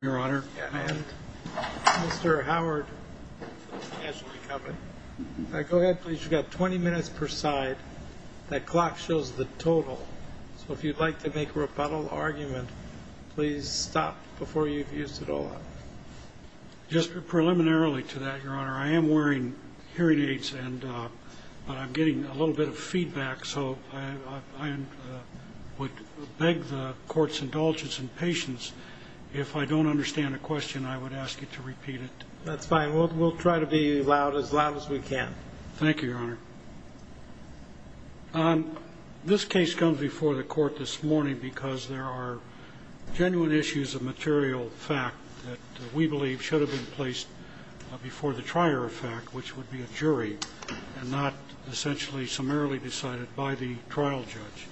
Mr. Howard, you have 20 minutes per side. That clock shows the total. So if you'd like to make a rebuttal argument, please stop before you've used it all up. Just preliminarily to that, your honor, I am wearing hearing aids and I'm getting a little bit of feedback. So I would beg the court's indulgence and patience. If I don't understand the question, I would ask you to repeat it. That's fine. We'll try to be loud as loud as we can. Thank you, your honor. This case comes before the court this morning because there are genuine issues of material fact. That we believe should have been placed before the trier of fact, which would be a jury and not essentially summarily decided by the trial judge.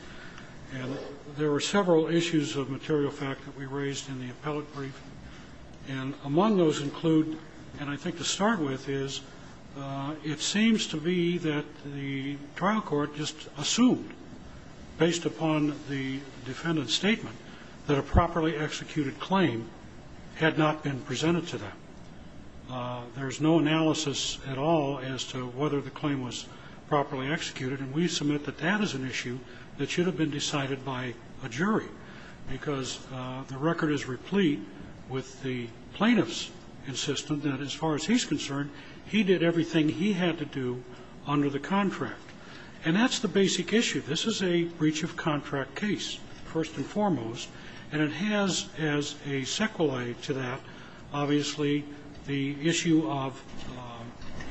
And there were several issues of material fact that we raised in the appellate brief. And among those include, and I think to start with, is it seems to be that the trial court just assumed, based upon the defendant's statement, that a properly executed claim had not been presented to them. There's no analysis at all as to whether the claim was properly executed. And we submit that that is an issue that should have been decided by a jury. Because the record is replete with the plaintiff's insistence that as far as he's concerned, he did everything he had to do under the contract. And that's the basic issue. This is a breach of contract case. First and foremost. And it has as a sequelae to that, obviously, the issue of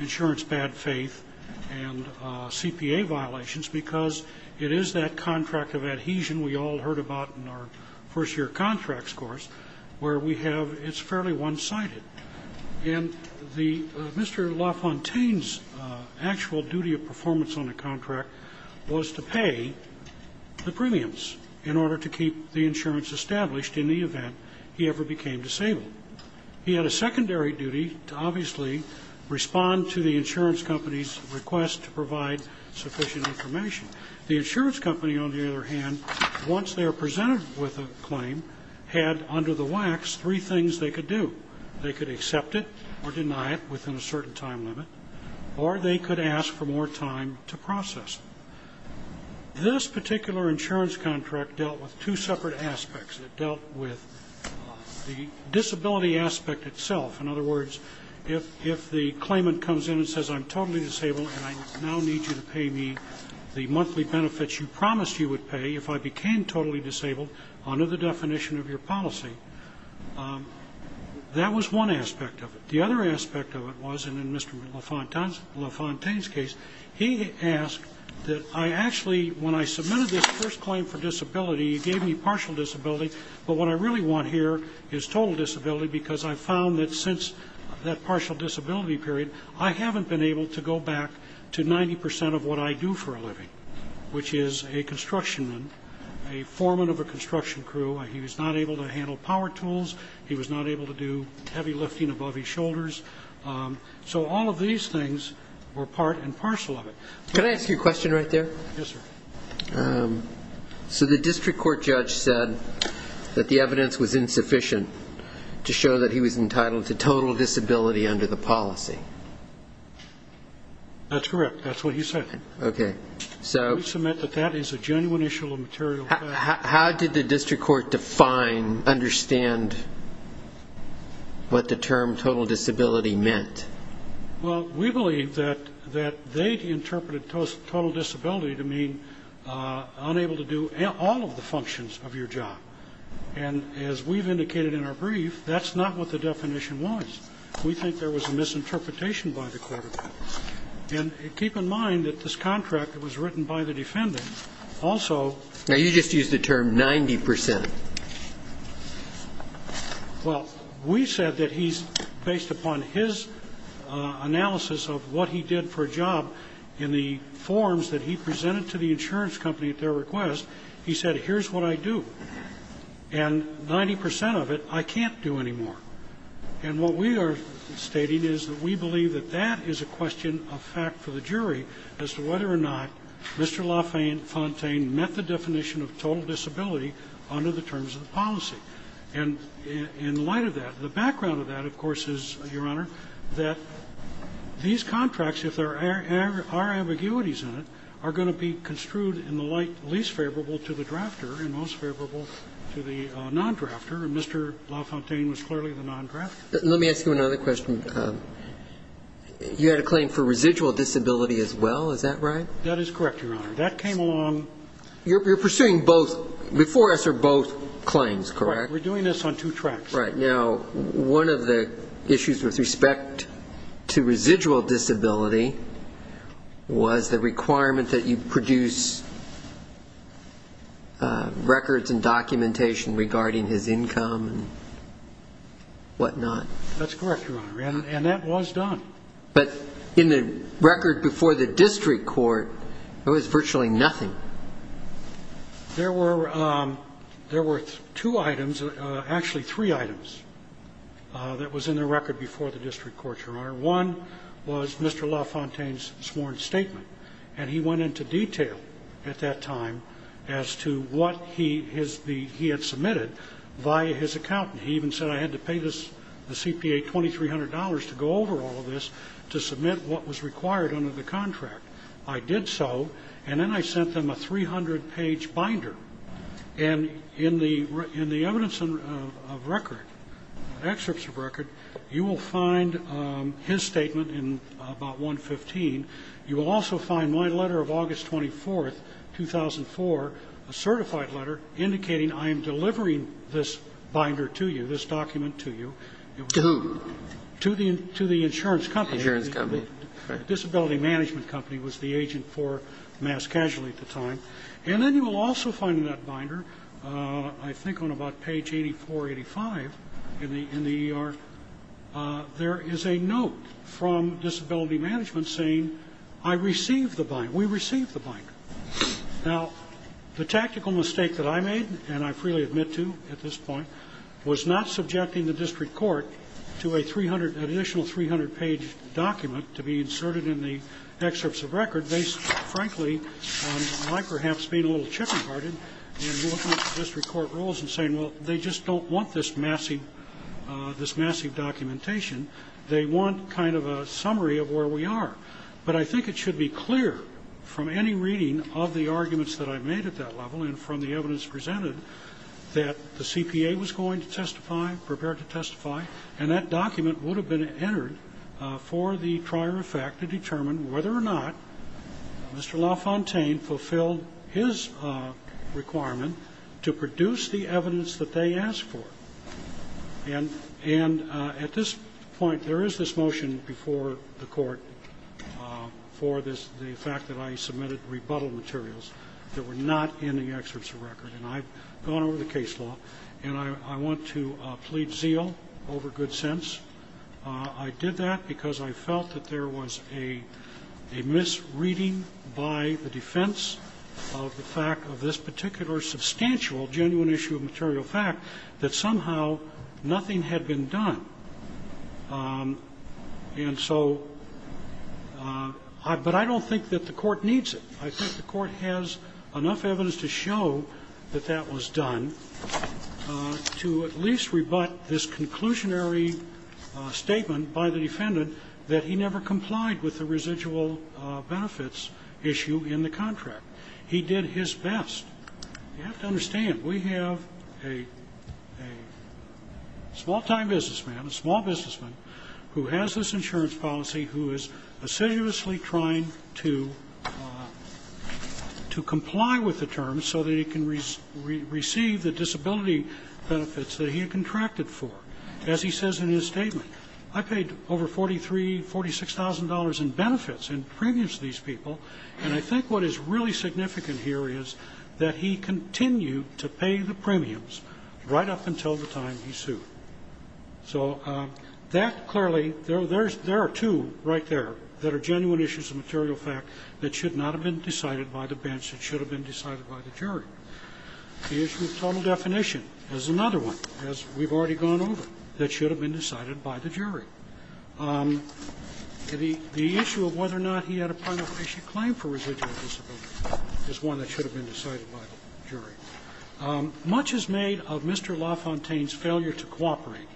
insurance bad faith and CPA violations. Because it is that contract of adhesion we all heard about in our first year contracts course, where we have, it's fairly one-sided. And Mr. LaFontaine's actual duty of performance on the contract was to pay the premiums in order to keep the insurance established in the event he ever became disabled. He had a secondary duty to obviously respond to the insurance company's request to provide sufficient information. The insurance company, on the other hand, once they are presented with a claim, had under the wax three things they could do. They could accept it or deny it within a certain time limit. Or they could ask for more time to process. This particular insurance contract dealt with two separate aspects. It dealt with the disability aspect itself. In other words, if the claimant comes in and says I'm totally disabled and I now need you to pay me the monthly benefits you promised you would pay if I became totally disabled, under the definition of your policy, that was one aspect of it. The other aspect of it was, and in Mr. LaFontaine's case, he asked that I actually, when I submitted this first claim for disability, he gave me partial disability, but what I really want here is total disability because I found that since that partial disability period, I haven't been able to go back to 90% of what I do for a living, which is a constructionman, a foreman of a construction crew. He was not able to handle power tools. He was not able to do heavy lifting above his shoulders. So all of these things were part and parcel of it. Can I ask you a question right there? Yes, sir. So the district court judge said that the evidence was insufficient to show that he was entitled to total disability under the policy. That's correct. That's what he said. Okay. We submit that that is a genuine issue of material fact. How did the district court define, understand what the term total disability meant? Well, we believe that they interpreted total disability to mean unable to do all of the functions of your job. And as we've indicated in our brief, that's not what the definition was. We think there was a misinterpretation by the court of law. And keep in mind that this contract that was written by the defendant also ---- Now, you just used the term 90%. Well, we said that he's, based upon his analysis of what he did for a job in the forms that he presented to the insurance company at their request, he said, here's what I do. And 90% of it I can't do anymore. And what we are stating is that we believe that that is a question of fact for the jury as to whether or not Mr. LaFontaine met the definition of total disability under the terms of the policy. And in light of that, the background of that, of course, is, Your Honor, that these contracts, if there are ambiguities in it, are going to be construed in the light least favorable to the drafter and most favorable to the non-drafter. And Mr. LaFontaine was clearly the non-drafter. Let me ask you another question. You had a claim for residual disability as well. Is that right? That is correct, Your Honor. That came along ---- You're pursuing both, before us are both claims, correct? Correct. We're doing this on two tracks. Right. Now, one of the issues with respect to residual disability was the requirement that you produce records and documentation regarding his income and whatnot. That's correct, Your Honor. And that was done. But in the record before the district court, there was virtually nothing. There were two items, actually three items, that was in the record before the district court, Your Honor. One was Mr. LaFontaine's sworn statement. And he went into detail at that time as to what he had submitted via his accountant. He even said I had to pay the CPA $2,300 to go over all of this to submit what was required under the contract. I did so. And then I sent them a 300-page binder. And in the evidence of record, excerpts of record, you will find his statement in about 115. You will also find my letter of August 24th, 2004, a certified letter indicating I am delivering this binder to you, this document to you. To whom? To the insurance company. Insurance company. Disability Management Company was the agent for Mass Casualty at the time. And then you will also find in that binder, I think on about page 84, 85 in the ER, there is a note from Disability Management saying I received the binder. We received the binder. Now, the tactical mistake that I made, and I freely admit to at this point, was not subjecting the district court to an additional 300-page document to be inserted in the excerpts of record, based, frankly, on my perhaps being a little chicken-hearted, and looking at district court rules and saying, well, they just don't want this massive documentation. They want kind of a summary of where we are. But I think it should be clear from any reading of the arguments that I've made at that level and from the evidence presented that the CPA was going to testify, prepare to testify, and that document would have been entered for the prior effect to determine whether or not Mr. LaFontaine fulfilled his requirement to produce the evidence that they asked for. And at this point, there is this motion before the court for the fact that I submitted rebuttal materials that were not in the excerpts of record. And I've gone over the case law, and I want to plead zeal over good sense. I did that because I felt that there was a misreading by the defense of the fact of this particular substantial, genuine issue of material fact, that somehow nothing had been done. And so but I don't think that the court needs it. I think the court has enough evidence to show that that was done to at least rebutt this conclusionary statement by the defendant that he never complied with the residual benefits issue in the contract. He did his best. You have to understand, we have a small-time businessman, a small businessman, who has this insurance policy, who is assiduously trying to comply with the terms so that he can receive the disability benefits that he contracted for. As he says in his statement, I paid over $43,000, $46,000 in benefits and premiums to these people. And I think what is really significant here is that he continued to pay the premiums right up until the time he sued. So that clearly, there are two right there that are genuine issues of material fact that should not have been decided by the bench, that should have been decided by the jury. The issue of total definition is another one, as we've already gone over, that should have been decided by the jury. The issue of whether or not he had a prima facie claim for residual disability is one that should have been decided by the jury. Much is made of Mr. LaFontaine's failure to cooperate.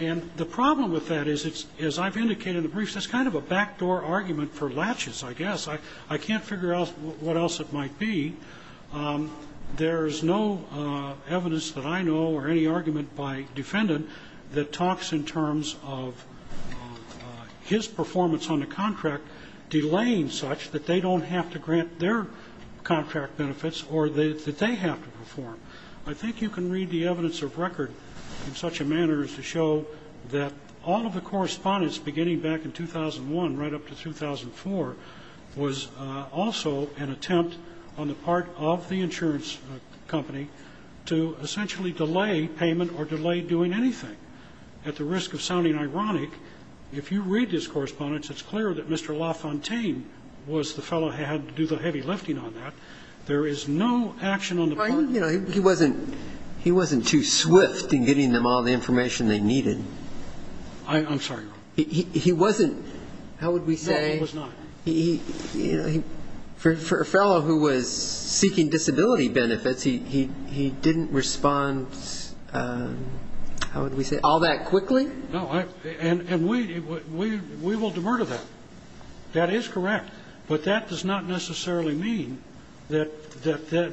And the problem with that is, as I've indicated in the briefs, it's kind of a backdoor argument for latches, I guess. I can't figure out what else it might be. There's no evidence that I know or any argument by defendant that talks in terms of his performance on the contract delaying such that they don't have to grant their contract benefits or that they have to perform. I think you can read the evidence of record in such a manner as to show that all of the correspondence beginning back in 2001, right up to 2004, was also an attempt on the part of the insurance company to essentially delay payment or delay doing anything at the risk of sounding ironic. If you read his correspondence, it's clear that Mr. LaFontaine was the fellow who had to do the heavy lifting on that. There is no action on the part of the insurance company. He wasn't too swift in getting them all the information they needed. I'm sorry, Your Honor. He wasn't, how would we say? No, he was not. For a fellow who was seeking disability benefits, he didn't respond, how would we say, all that quickly? No. And we will demur to that. That is correct. But that does not necessarily mean that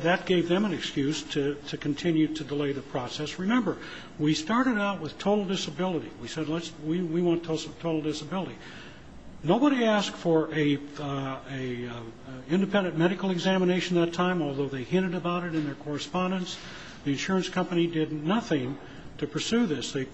that gave them an excuse to continue to delay the process. Remember, we started out with total disability. We said we want total disability. Nobody asked for an independent medical examination that time, although they hinted about it in their correspondence. The insurance company did nothing to pursue this. They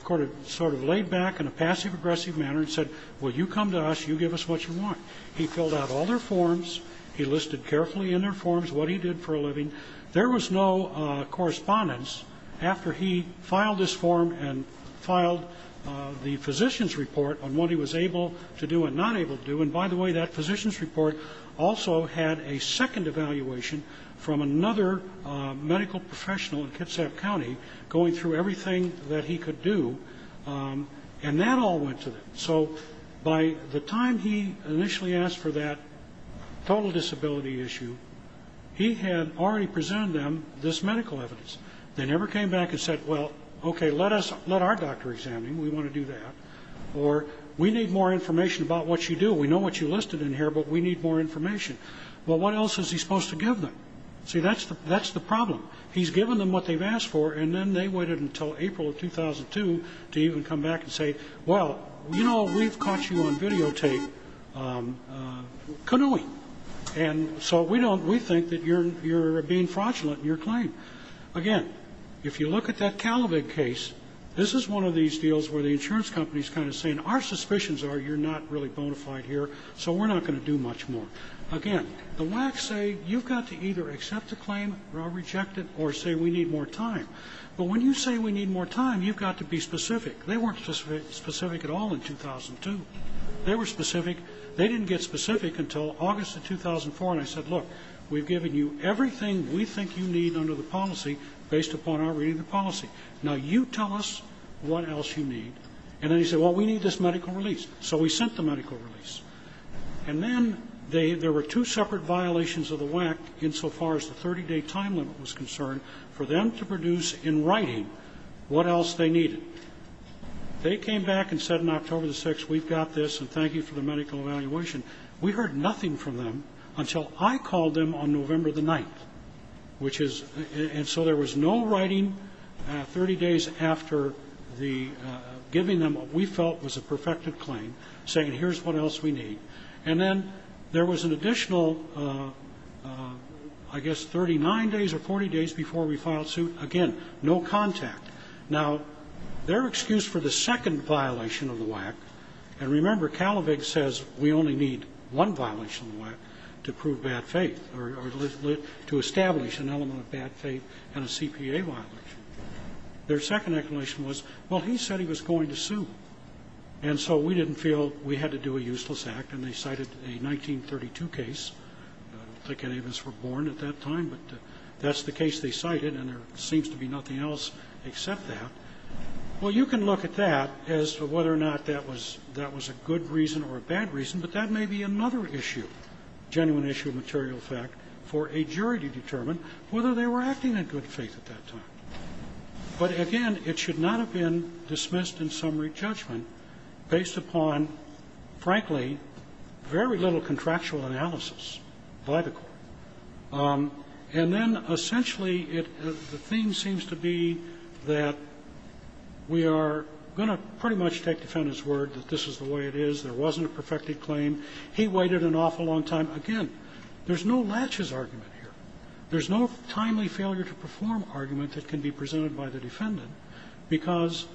sort of laid back in a passive-aggressive manner and said, well, you come to us, you give us what you want. He filled out all their forms. He listed carefully in their forms what he did for a living. There was no correspondence after he filed his form and filed the physician's report on what he was able to do and not able to do. And by the way, that physician's report also had a second evaluation from another medical professional in Kitsap County, going through everything that he could do, and that all went to them. So by the time he initially asked for that total disability issue, he had already presented them this medical evidence. They never came back and said, well, okay, let our doctor examine him. We want to do that. Or we need more information about what you do. We know what you listed in here, but we need more information. Well, what else is he supposed to give them? See, that's the problem. He's given them what they've asked for, and then they waited until April of 2002 to even come back and say, well, you know, we've caught you on videotape canoeing. And so we think that you're being fraudulent in your claim. Again, if you look at that Calavig case, this is one of these deals where the insurance company is kind of saying, our suspicions are you're not really bona fide here, so we're not going to do much more. Again, the WAC say you've got to either accept the claim or reject it or say we need more time. But when you say we need more time, you've got to be specific. They weren't specific at all in 2002. They were specific. They didn't get specific until August of 2004, and I said, look, we've given you everything we think you need under the policy based upon our reading of the policy. Now you tell us what else you need. And then he said, well, we need this medical release. So we sent the medical release. And then there were two separate violations of the WAC insofar as the 30-day time limit was concerned for them to produce in writing what else they needed. They came back and said in October the 6th, we've got this, and thank you for the medical evaluation. We heard nothing from them until I called them on November the 9th, which is and so there was no writing 30 days after giving them what we felt was a perfected claim, saying here's what else we need. And then there was an additional, I guess, 39 days or 40 days before we filed suit. Again, no contact. Now, their excuse for the second violation of the WAC, and remember, Kalavig says we only need one violation of the WAC to prove bad faith or to establish an element of bad faith in a CPA violation. Their second explanation was, well, he said he was going to sue. And so we didn't feel we had to do a useless act, and they cited a 1932 case. I don't think any of us were born at that time, but that's the case they cited, and there seems to be nothing else except that. Well, you can look at that as to whether or not that was a good reason or a bad reason, but that may be another issue, genuine issue of material fact, for a jury to determine whether they were acting in good faith at that time. But, again, it should not have been dismissed in summary judgment based upon, frankly, very little contractual analysis by the Court. And then, essentially, the theme seems to be that we are going to pretty much take the defendant's word that this is the way it is, there wasn't a perfected claim, he waited an awful long time. Again, there's no latches argument here. There's no timely failure to perform argument that can be presented by the defendant because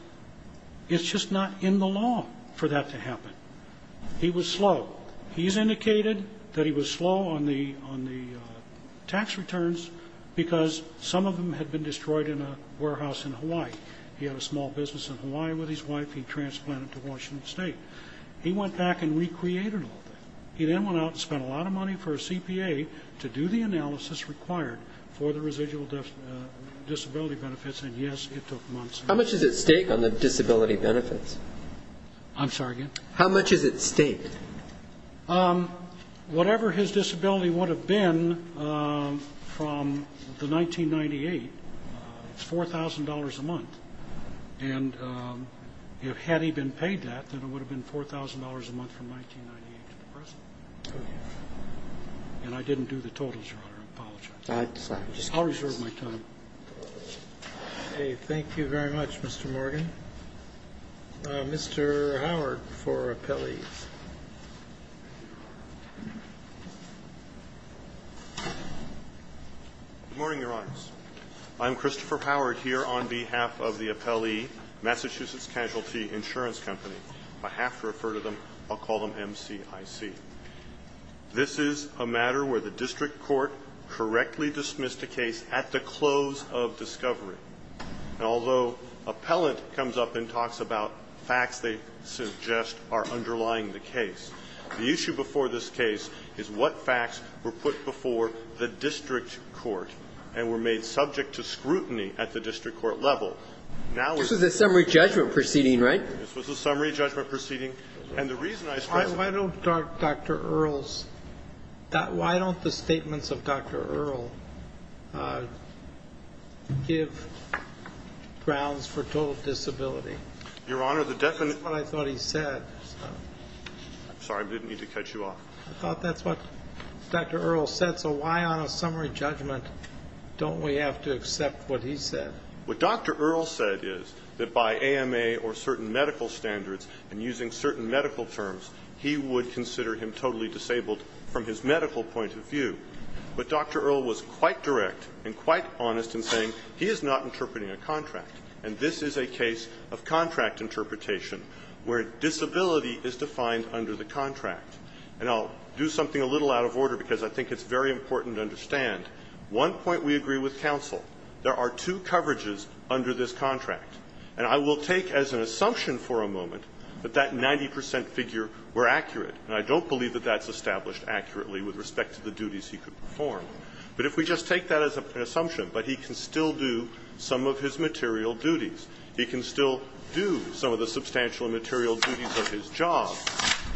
it's just not in the law for that to happen. He was slow. He's indicated that he was slow on the tax returns because some of them had been destroyed in a warehouse in Hawaii. He had a small business in Hawaii with his wife. He transplanted to Washington State. He went back and recreated all that. He then went out and spent a lot of money for a CPA to do the analysis required for the residual disability benefits, and, yes, it took months. How much is at stake on the disability benefits? I'm sorry again? How much is at stake? Whatever his disability would have been from the 1998, it's $4,000 a month. And had he been paid that, then it would have been $4,000 a month from 1998 to the present. And I didn't do the totals, Your Honor. I apologize. I'll reserve my time. Thank you very much, Mr. Morgan. Mr. Howard for appellees. Good morning, Your Honors. I'm Christopher Howard here on behalf of the appellee, Massachusetts Casualty Insurance Company. If I have to refer to them, I'll call them MCIC. This is a matter where the district court correctly dismissed a case at the close of discovery. And although appellant comes up and talks about facts they suggest are underlying the case, the issue before this case is what facts were put before the district court and were made subject to scrutiny at the district court level. This was a summary judgment proceeding, right? This was a summary judgment proceeding. And the reason I stress it. Why don't Dr. Earle's, why don't the statements of Dr. Earle give grounds for total disability? Your Honor, the definite. That's what I thought he said. I'm sorry. I didn't mean to cut you off. I thought that's what Dr. Earle said. So why on a summary judgment don't we have to accept what he said? What Dr. Earle said is that by AMA or certain medical standards and using certain medical terms, he would consider him totally disabled from his medical point of view. But Dr. Earle was quite direct and quite honest in saying he is not interpreting a contract, and this is a case of contract interpretation where disability is defined under the contract. And I'll do something a little out of order because I think it's very important to understand. One point we agree with counsel. There are two coverages under this contract. And I will take as an assumption for a moment that that 90 percent figure were accurate, and I don't believe that that's established accurately with respect to the duties he could perform. But if we just take that as an assumption, but he can still do some of his material duties, he can still do some of the substantial material duties of his job,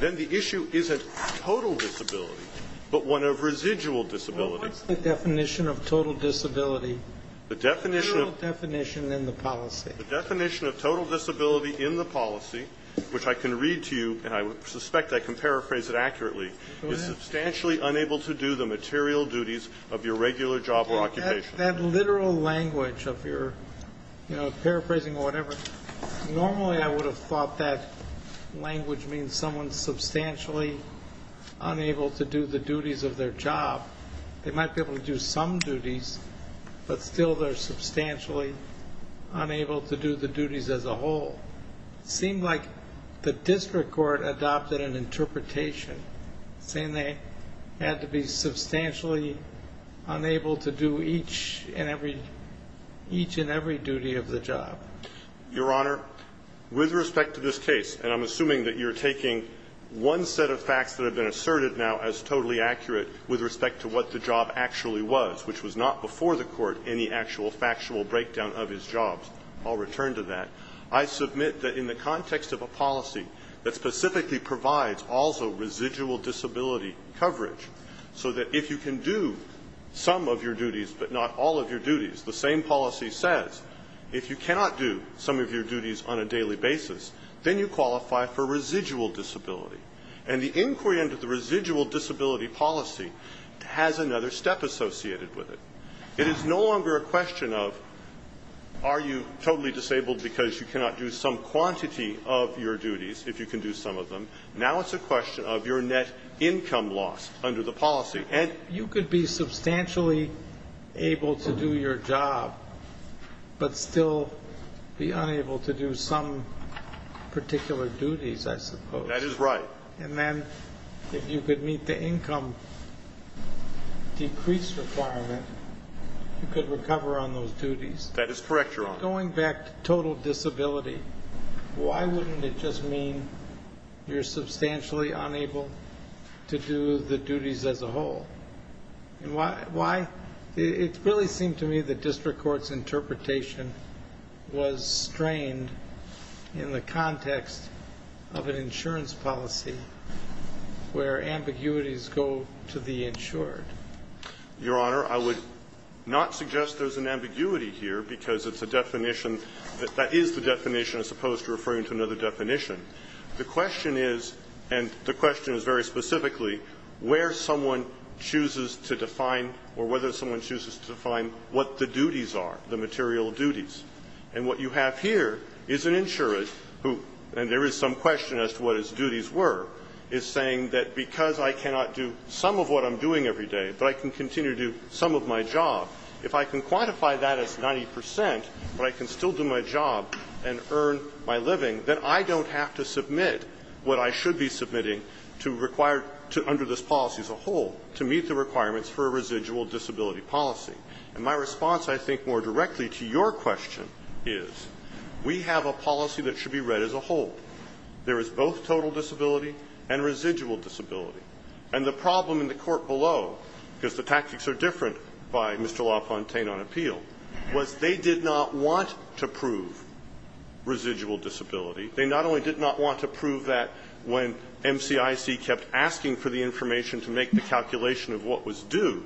then the issue isn't total disability, but one of residual disability. Well, what's the definition of total disability? The definition of the policy. The definition of total disability in the policy, which I can read to you, and I suspect I can paraphrase it accurately, is substantially unable to do the material duties of your regular job or occupation. That literal language of your paraphrasing or whatever, normally I would have thought that language means someone is substantially unable to do the duties of their job. They might be able to do some duties, but still they're substantially unable to do the duties as a whole. It seemed like the district court adopted an interpretation saying they had to be substantially unable to do each and every duty of the job. Your Honor, with respect to this case, and I'm assuming that you're taking one set of facts that have been asserted now as totally accurate with respect to what the job actually was, which was not before the court any actual factual breakdown of his jobs. I'll return to that. I submit that in the context of a policy that specifically provides also residual disability coverage, so that if you can do some of your duties but not all of your duties, the same policy says if you cannot do some of your duties on a daily basis, then you qualify for residual disability. And the inquiry into the residual disability policy has another step associated with it. It is no longer a question of are you totally disabled because you cannot do some quantity of your duties, if you can do some of them. Now it's a question of your net income loss under the policy. And you could be substantially able to do your job, but still be unable to do some particular duties, I suppose. That is right. And then if you could meet the income decrease requirement, you could recover on those duties. That is correct, Your Honor. Going back to total disability, why wouldn't it just mean you're substantially unable to do the duties as a whole? Why? It really seemed to me that district court's interpretation was strained in the context of an insurance policy where ambiguities go to the insured. Your Honor, I would not suggest there's an ambiguity here because it's a definition that is the definition as opposed to referring to another definition. The question is, and the question is very specifically, where someone chooses to define or whether someone chooses to define what the duties are, the material duties. And what you have here is an insurer who, and there is some question as to what his duties were, is saying that because I cannot do some of what I'm doing every day, but I can continue to do some of my job, if I can quantify that as 90 percent but I can still do my job and earn my living, then I don't have to submit what I should be submitting to require, under this policy as a whole, to meet the requirements for a residual disability policy. And my response, I think, more directly to your question is we have a policy that should be read as a whole. There is both total disability and residual disability. And the problem in the court below, because the tactics are different by Mr. They did not want to prove residual disability. They not only did not want to prove that when MCIC kept asking for the information to make the calculation of what was due,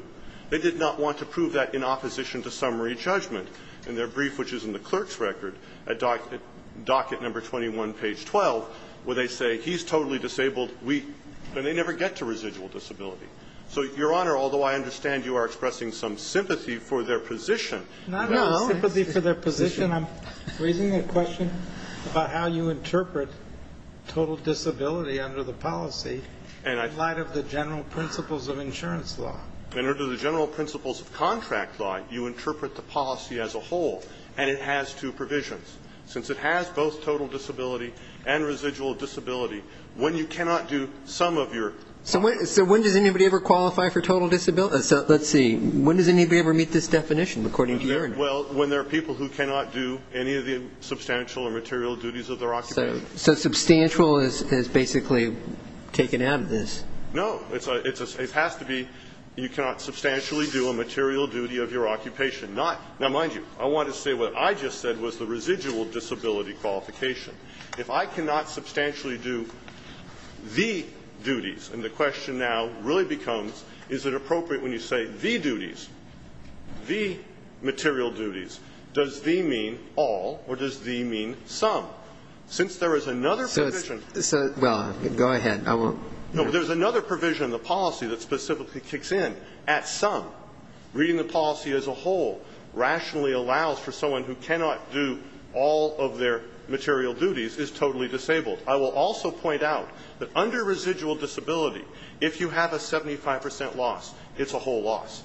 they did not want to prove that in opposition to summary judgment. In their brief, which is in the clerk's record, at docket number 21, page 12, where they say he's totally disabled, we – and they never get to residual disability. So, Your Honor, although I understand you are expressing some sympathy for their position. Not at all sympathy for their position. I'm raising a question about how you interpret total disability under the policy in light of the general principles of insurance law. And under the general principles of contract law, you interpret the policy as a whole. And it has two provisions. Since it has both total disability and residual disability, when you cannot do some of your – So when does anybody ever qualify for total – let's see. When does anybody ever meet this definition, according to your interpretation? Well, when there are people who cannot do any of the substantial or material duties of their occupation. So substantial is basically taken out of this. No. It has to be you cannot substantially do a material duty of your occupation. Not – now, mind you, I want to say what I just said was the residual disability qualification. If I cannot substantially do the duties, and the question now really becomes is it appropriate when you say the duties, the material duties, does the mean all or does the mean some? Since there is another provision – So it's – well, go ahead. I won't – No, but there's another provision in the policy that specifically kicks in. At some, reading the policy as a whole rationally allows for someone who cannot do all of their material duties is totally disabled. I will also point out that under residual disability, if you have a 75 percent loss, it's a whole loss.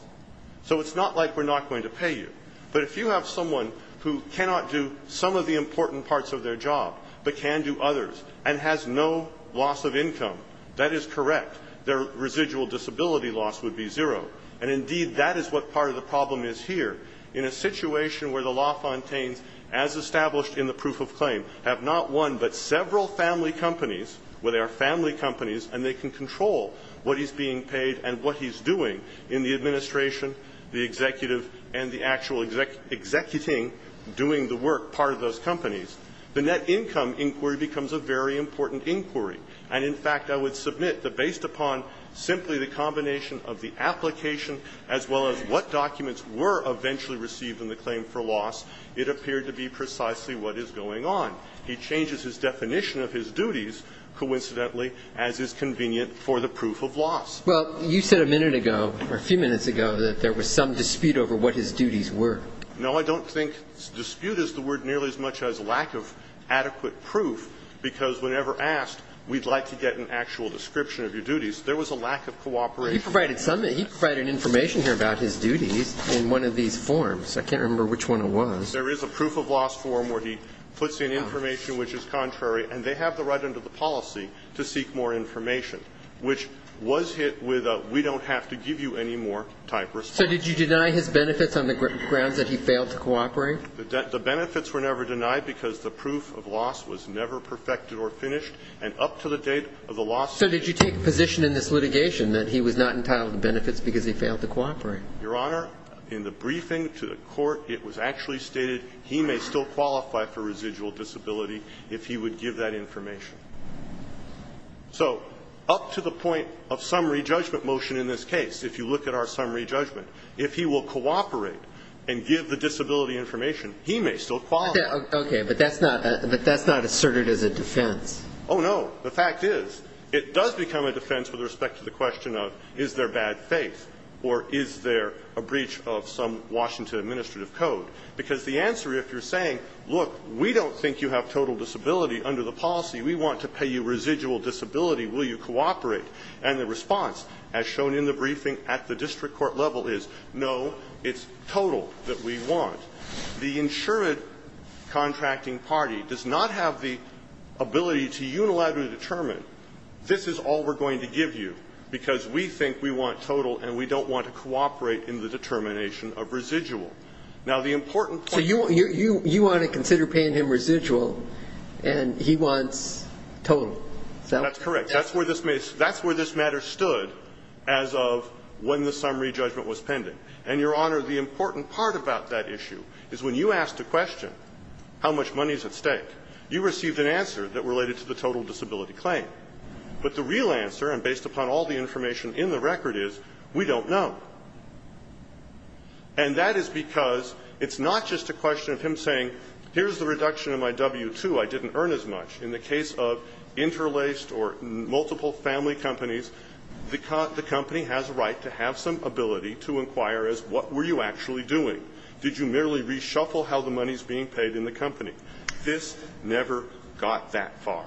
So it's not like we're not going to pay you. But if you have someone who cannot do some of the important parts of their job but can do others and has no loss of income, that is correct. Their residual disability loss would be zero. And indeed, that is what part of the problem is here. In a situation where the LaFontaines, as established in the proof of claim, have not one but several family companies, where there are family companies, and they can control what is being paid and what he's doing in the administration, the executive, and the actual executing, doing the work, part of those companies, the net income inquiry becomes a very important inquiry. And in fact, I would submit that based upon simply the combination of the application as well as what documents were eventually received in the claim for loss, it appeared to be precisely what is going on. He changes his definition of his duties, coincidentally, as is convenient for the proof of loss. Well, you said a minute ago or a few minutes ago that there was some dispute over what his duties were. No, I don't think dispute is the word nearly as much as lack of adequate proof, because whenever asked, we'd like to get an actual description of your duties. There was a lack of cooperation. He provided some of it. He provided information here about his duties in one of these forms. I can't remember which one it was. There is a proof of loss form where he puts in information which is contrary, and they have the right under the policy to seek more information, which was hit with a we don't have to give you any more type response. So did you deny his benefits on the grounds that he failed to cooperate? The benefits were never denied because the proof of loss was never perfected or finished, and up to the date of the loss. So did you take a position in this litigation that he was not entitled to benefits because he failed to cooperate? Your Honor, in the briefing to the court, it was actually stated he may still qualify for residual disability if he would give that information. So up to the point of summary judgment motion in this case, if you look at our summary judgment, if he will cooperate and give the disability information, he may still qualify. Okay. But that's not asserted as a defense. Oh, no. The fact is it does become a defense with respect to the question of is there bad faith or is there a breach of some Washington administrative code. Because the answer, if you're saying, look, we don't think you have total disability under the policy. We want to pay you residual disability. Will you cooperate? And the response, as shown in the briefing at the district court level, is no, it's total that we want. The insured contracting party does not have the ability to unilaterally determine this is all we're going to give you, because we think we want total and we don't want to cooperate in the determination of residual. Now, the important point So you want to consider paying him residual and he wants Is that what you're saying? That's correct. That's where this matter stood as of when the summary judgment was pending. And, Your Honor, the important part about that issue is when you asked a question, how much money is at stake, you received an answer that related to the total disability claim. But the real answer, and based upon all the information in the record, is we don't know. And that is because it's not just a question of him saying, here's the reduction of my W-2. I didn't earn as much. In the case of interlaced or multiple family companies, the company has a right to have some ability to inquire as, what were you actually doing? Did you merely reshuffle how the money is being paid in the company? This never got that far.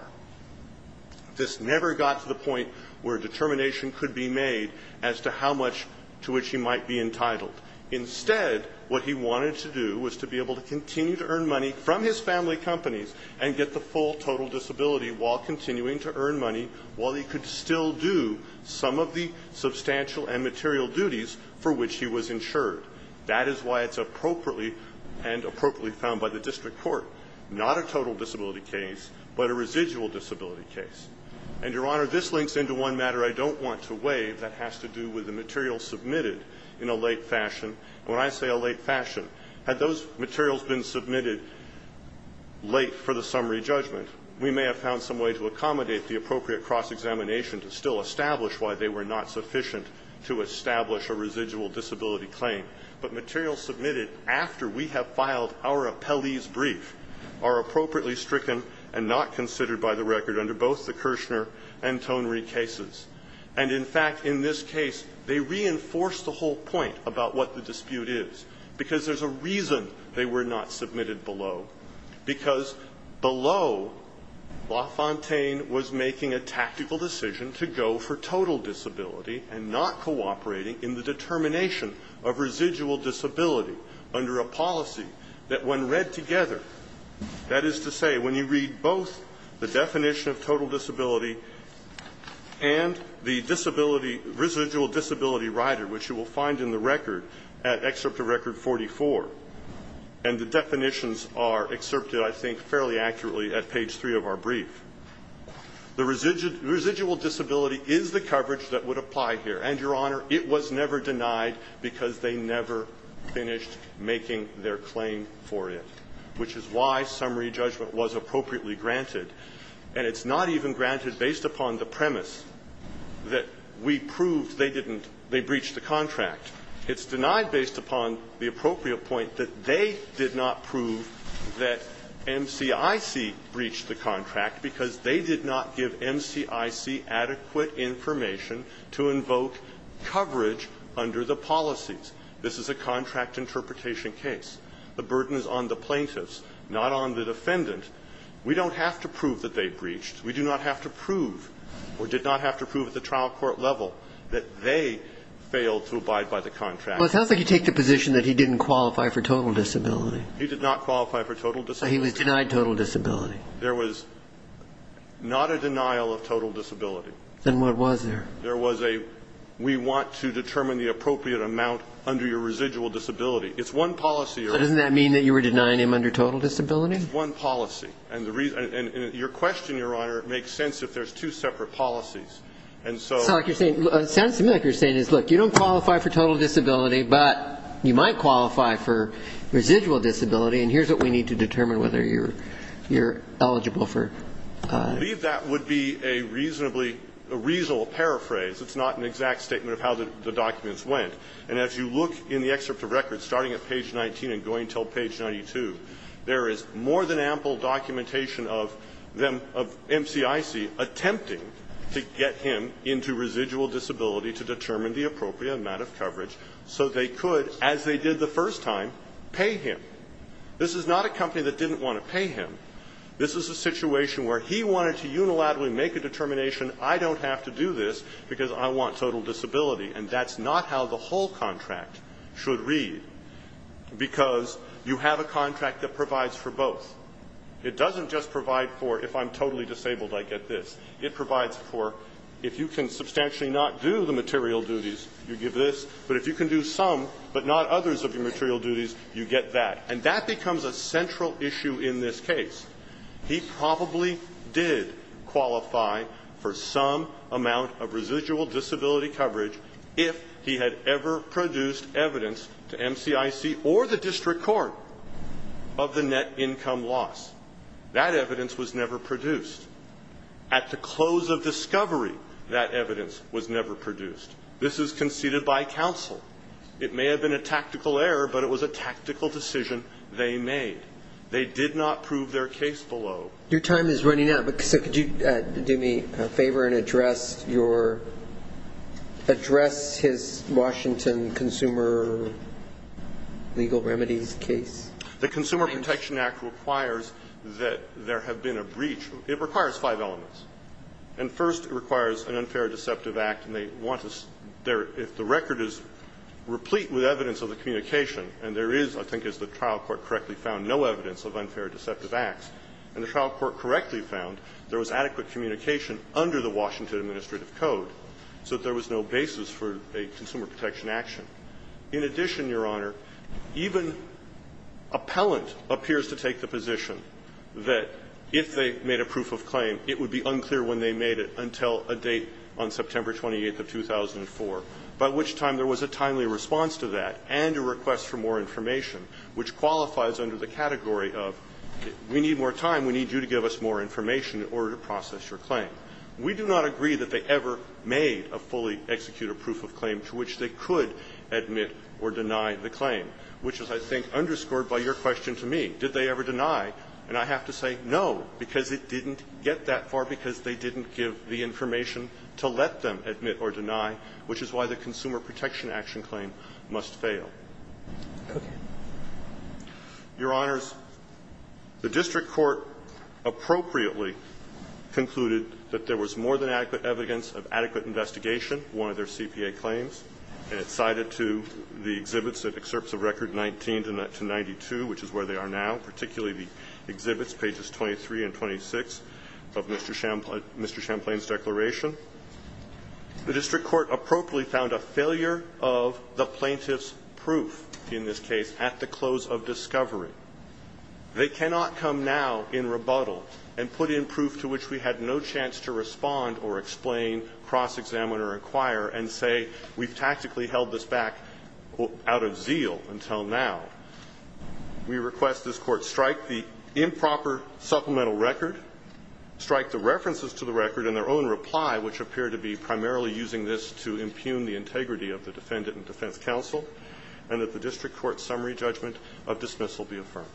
This never got to the point where determination could be made as to how much to which he might be entitled. Instead, what he wanted to do was to be able to continue to earn money from his family companies and get the full total disability while continuing to earn money while he could still do some of the substantial and material duties for which he was insured. That is why it's appropriately and appropriately found by the district court, not a total disability case, but a residual disability case. And, Your Honor, this links into one matter I don't want to waive that has to do with the material submitted in a late fashion. And when I say a late fashion, had those materials been submitted late for the summary judgment, we may have found some way to accommodate the appropriate cross-examination to still establish why they were not sufficient to establish a residual disability claim. But materials submitted after we have filed our appellee's brief are appropriately stricken and not considered by the record under both the Kirshner and Tonry cases. And, in fact, in this case, they reinforce the whole point about what the dispute is because there's a reason they were not submitted below. Because below, LaFontaine was making a tactical decision to go for total disability and not cooperating in the determination of residual disability under a policy that, when read together, that is to say, when you read both the definition of total disability and the disability, residual disability rider, which you will find in the record at Excerpt of Record 44, and the definitions are excerpted, I think, fairly accurately at page three of our brief. The residual disability is the coverage that would apply here. And, Your Honor, it was never denied because they never finished making their claim for it, which is why summary judgment was appropriately granted. And it's not even granted based upon the premise that we proved they didn't they breached the contract. It's denied based upon the appropriate point that they did not prove that MCIC breached the contract because they did not give MCIC adequate information to invoke coverage under the policies. This is a contract interpretation case. The burden is on the plaintiffs, not on the defendant. We don't have to prove that they breached. We do not have to prove or did not have to prove at the trial court level that they failed to abide by the contract. Well, it sounds like you take the position that he didn't qualify for total disability. He did not qualify for total disability. He was denied total disability. There was not a denial of total disability. Then what was there? There was a we want to determine the appropriate amount under your residual disability. It's one policy. Doesn't that mean that you were denying him under total disability? It's one policy. And your question, Your Honor, makes sense if there's two separate policies. And so you're saying it sounds to me like you're saying, look, you don't qualify for total disability, but you might qualify for residual disability. And here's what we need to determine whether you're eligible for. I believe that would be a reasonably, a reasonable paraphrase. It's not an exact statement of how the documents went. And as you look in the excerpt of record, starting at page 19 and going until page 92, there is more than ample documentation of them, of MCIC attempting to get him into residual disability to determine the appropriate amount of coverage so they could, as they did the first time, pay him. This is not a company that didn't want to pay him. This is a situation where he wanted to unilaterally make a determination, I don't have to do this because I want total disability. And that's not how the whole contract should read, because you have a contract that provides for both. It doesn't just provide for if I'm totally disabled, I get this. It provides for if you can substantially not do the material duties, you give this. But if you can do some but not others of your material duties, you get that. And that becomes a central issue in this case. He probably did qualify for some amount of residual disability coverage if he had ever produced evidence to MCIC or the district court of the net income loss. That evidence was never produced. At the close of discovery, that evidence was never produced. This is conceded by counsel. It may have been a tactical error, but it was a tactical decision they made. They did not prove their case below. Your time is running out. So could you do me a favor and address your, address his Washington Consumer Legal Remedies case? The Consumer Protection Act requires that there have been a breach. It requires five elements. And first, it requires an unfair deceptive act. And they want to, if the record is replete with evidence of the communication and there is, I think, as the trial court correctly found, no evidence of unfair deceptive acts, and the trial court correctly found there was adequate communication under the Washington Administrative Code, so that there was no basis for a consumer protection action. In addition, Your Honor, even appellant appears to take the position that if they made a proof of claim, it would be unclear when they made it until a date on September 28th of 2004, by which time there was a timely response to that and a request for more information, which qualifies under the category of, we need more time, we need you to give us more information in order to process your claim. We do not agree that they ever made a fully executed proof of claim to which they didn't get that far because they didn't give the information to let them admit or deny, which is why the consumer protection action claim must fail. Your Honors, the district court appropriately concluded that there was more than adequate evidence of adequate investigation, one of their CPA claims. And it cited to the exhibits that excerpts of Record 19 to 92, which is where they are now, particularly the exhibits, pages 23 and 26 of Mr. Champlain's declaration, the district court appropriately found a failure of the plaintiff's proof in this case at the close of discovery. They cannot come now in rebuttal and put in proof to which we had no chance to respond or explain, cross-examine or inquire, and say we've tactically held this back out of zeal until now. We request this court strike the improper supplemental record, strike the references to the record in their own reply, which appear to be primarily using this to impugn the integrity of the Defendant and Defense Counsel, and that the district court summary judgment of dismissal be affirmed.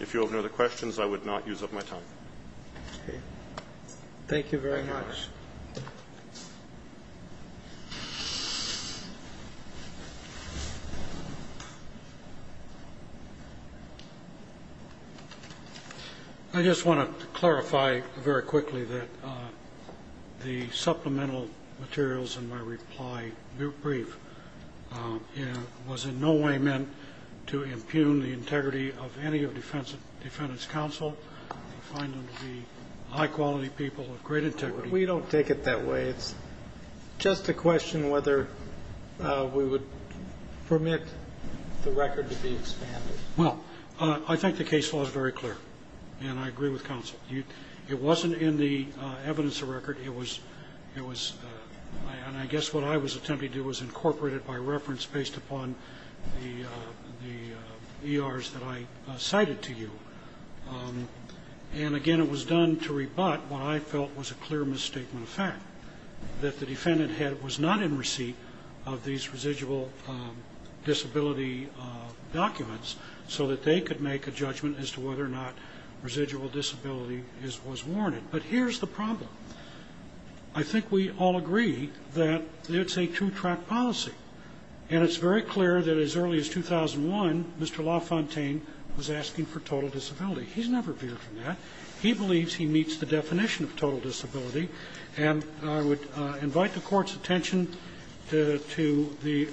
If you have no other questions, I would not use up my time. Thank you very much. I just want to clarify very quickly that the supplemental materials in my reply brief was in no way meant to impugn the integrity of any of the Defendant's Counsel. I find them to be high-quality people of great integrity. We don't take it that way. It's just a question whether we would permit the record to be expanded. Well, I think the case law is very clear, and I agree with counsel. It wasn't in the evidence of record. It was ñ it was ñ and I guess what I was attempting to do was incorporate it by reference based upon the ERs that I cited to you. And, again, it was done to rebut what I felt was a clear misstatement of fact, that the Defendant was not in receipt of these residual disability documents so that they could make a judgment as to whether or not residual disability was warranted. But here's the problem. I think we all agree that it's a two-track policy. And it's very clear that as early as 2001, Mr. LaFontaine was asking for total disability. He's never veered from that. He believes he meets the definition of total disability. And I would invite the Court's attention to the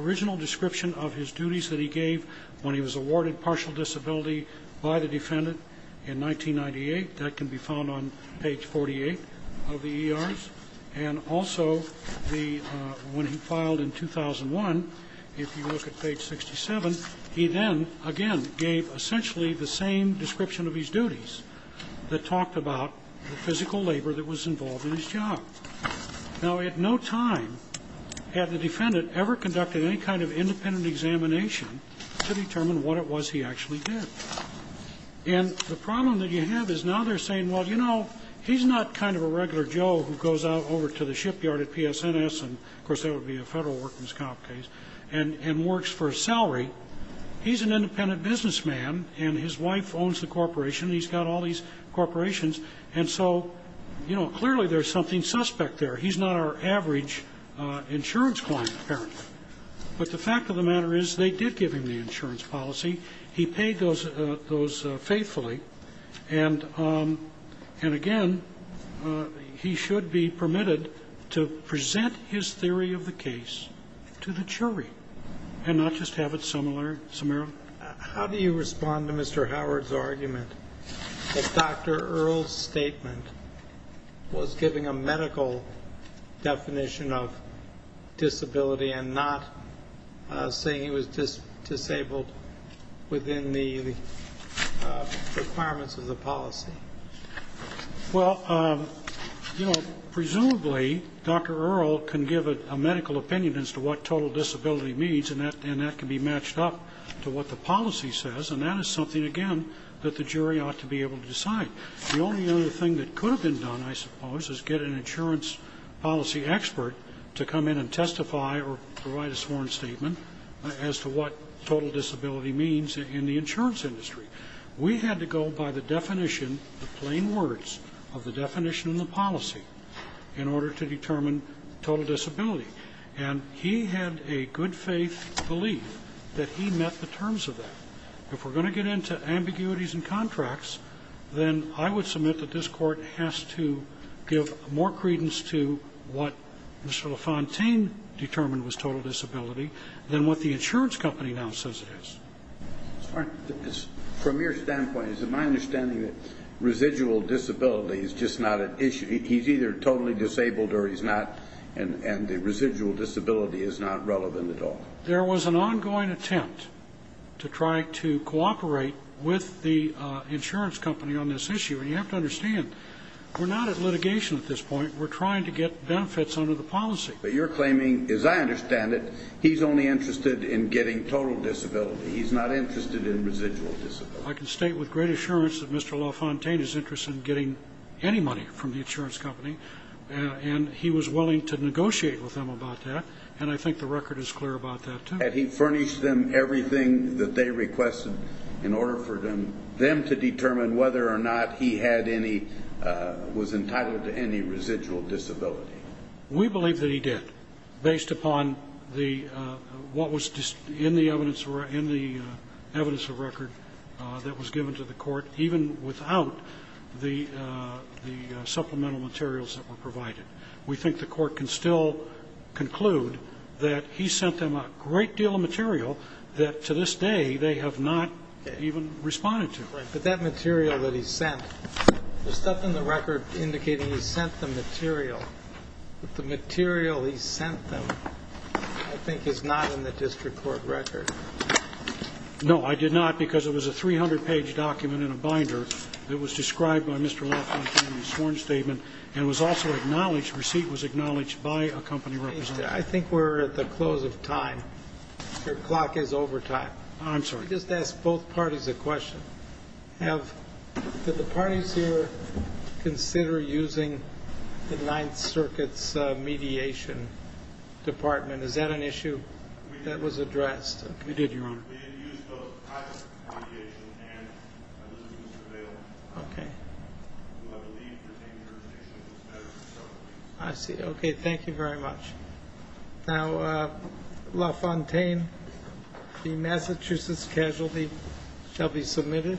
original description of his duties that he gave when he was awarded partial disability by the Defendant in 1998. That can be found on page 48 of the ERs. And also the ñ when he filed in 2001, if you look at page 67, he then, again, gave essentially the same description of his duties that talked about the physical labor that was involved in his job. Now, at no time had the Defendant ever conducted any kind of independent examination to determine what it was he actually did. And the problem that you have is now they're saying, well, you know, he's not kind of a regular Joe who goes out over to the shipyard at PSNS ñ and, of course, that would be a federal workers' comp case ñ and works for a salary. He's an independent businessman, and his wife owns the corporation. He's got all these corporations. And so, you know, clearly there's something suspect there. He's not our average insurance client, apparently. But the fact of the matter is they did give him the insurance policy. He paid those faithfully. And, again, he should be permitted to present his theory of the case to the jury and not just have it summarized. How do you respond to Mr. Howard's argument that Dr. Earle's statement was giving a medical definition of disability and not saying he was disabled within the requirements of the policy? Well, you know, presumably Dr. Earle can give a medical opinion as to what total disability means, and that can be matched up to what the policy says. And that is something, again, that the jury ought to be able to decide. The only other thing that could have been done, I suppose, is get an insurance policy expert to come in and testify or provide a sworn statement as to what total disability means in the insurance industry. We had to go by the definition, the plain words of the definition in the policy, in order to determine total disability. And he had a good-faith belief that he met the terms of that. If we're going to get into ambiguities in contracts, then I would submit that this Court has to give more credence to what Mr. LaFontaine determined was total disability than what the insurance company now says it is. From your standpoint, is it my understanding that residual disability is just not an issue? He's either totally disabled or he's not, and the residual disability is not relevant at all? There was an ongoing attempt to try to cooperate with the insurance company on this issue. And you have to understand, we're not at litigation at this point. We're trying to get benefits under the policy. But you're claiming, as I understand it, he's only interested in getting total disability. He's not interested in residual disability. I can state with great assurance that Mr. LaFontaine is interested in getting any money from the insurance company, and he was willing to negotiate with them about that, and I think the record is clear about that, too. Had he furnished them everything that they requested in order for them to determine whether or not he was entitled to any residual disability? We believe that he did, based upon the what was in the evidence of record that was given to the court, even without the supplemental materials that were provided. We think the court can still conclude that he sent them a great deal of material that to this day they have not even responded to. But that material that he sent, the stuff in the record indicating he sent them material, but the material he sent them I think is not in the district court record. No, I did not, because it was a 300-page document in a binder that was described by Mr. LaFontaine in his sworn statement and was also acknowledged, receipt was acknowledged by a company representative. I think we're at the close of time. Your clock is over time. I'm sorry. Let me just ask both parties a question. Did the parties here consider using the Ninth Circuit's mediation department? Is that an issue that was addressed? We did, Your Honor. We did use both private mediation and a list of surveillance. Okay. I believe retainerization was better for several reasons. I see. Okay, thank you very much. Now, LaFontaine, the Massachusetts casualty shall be submitted.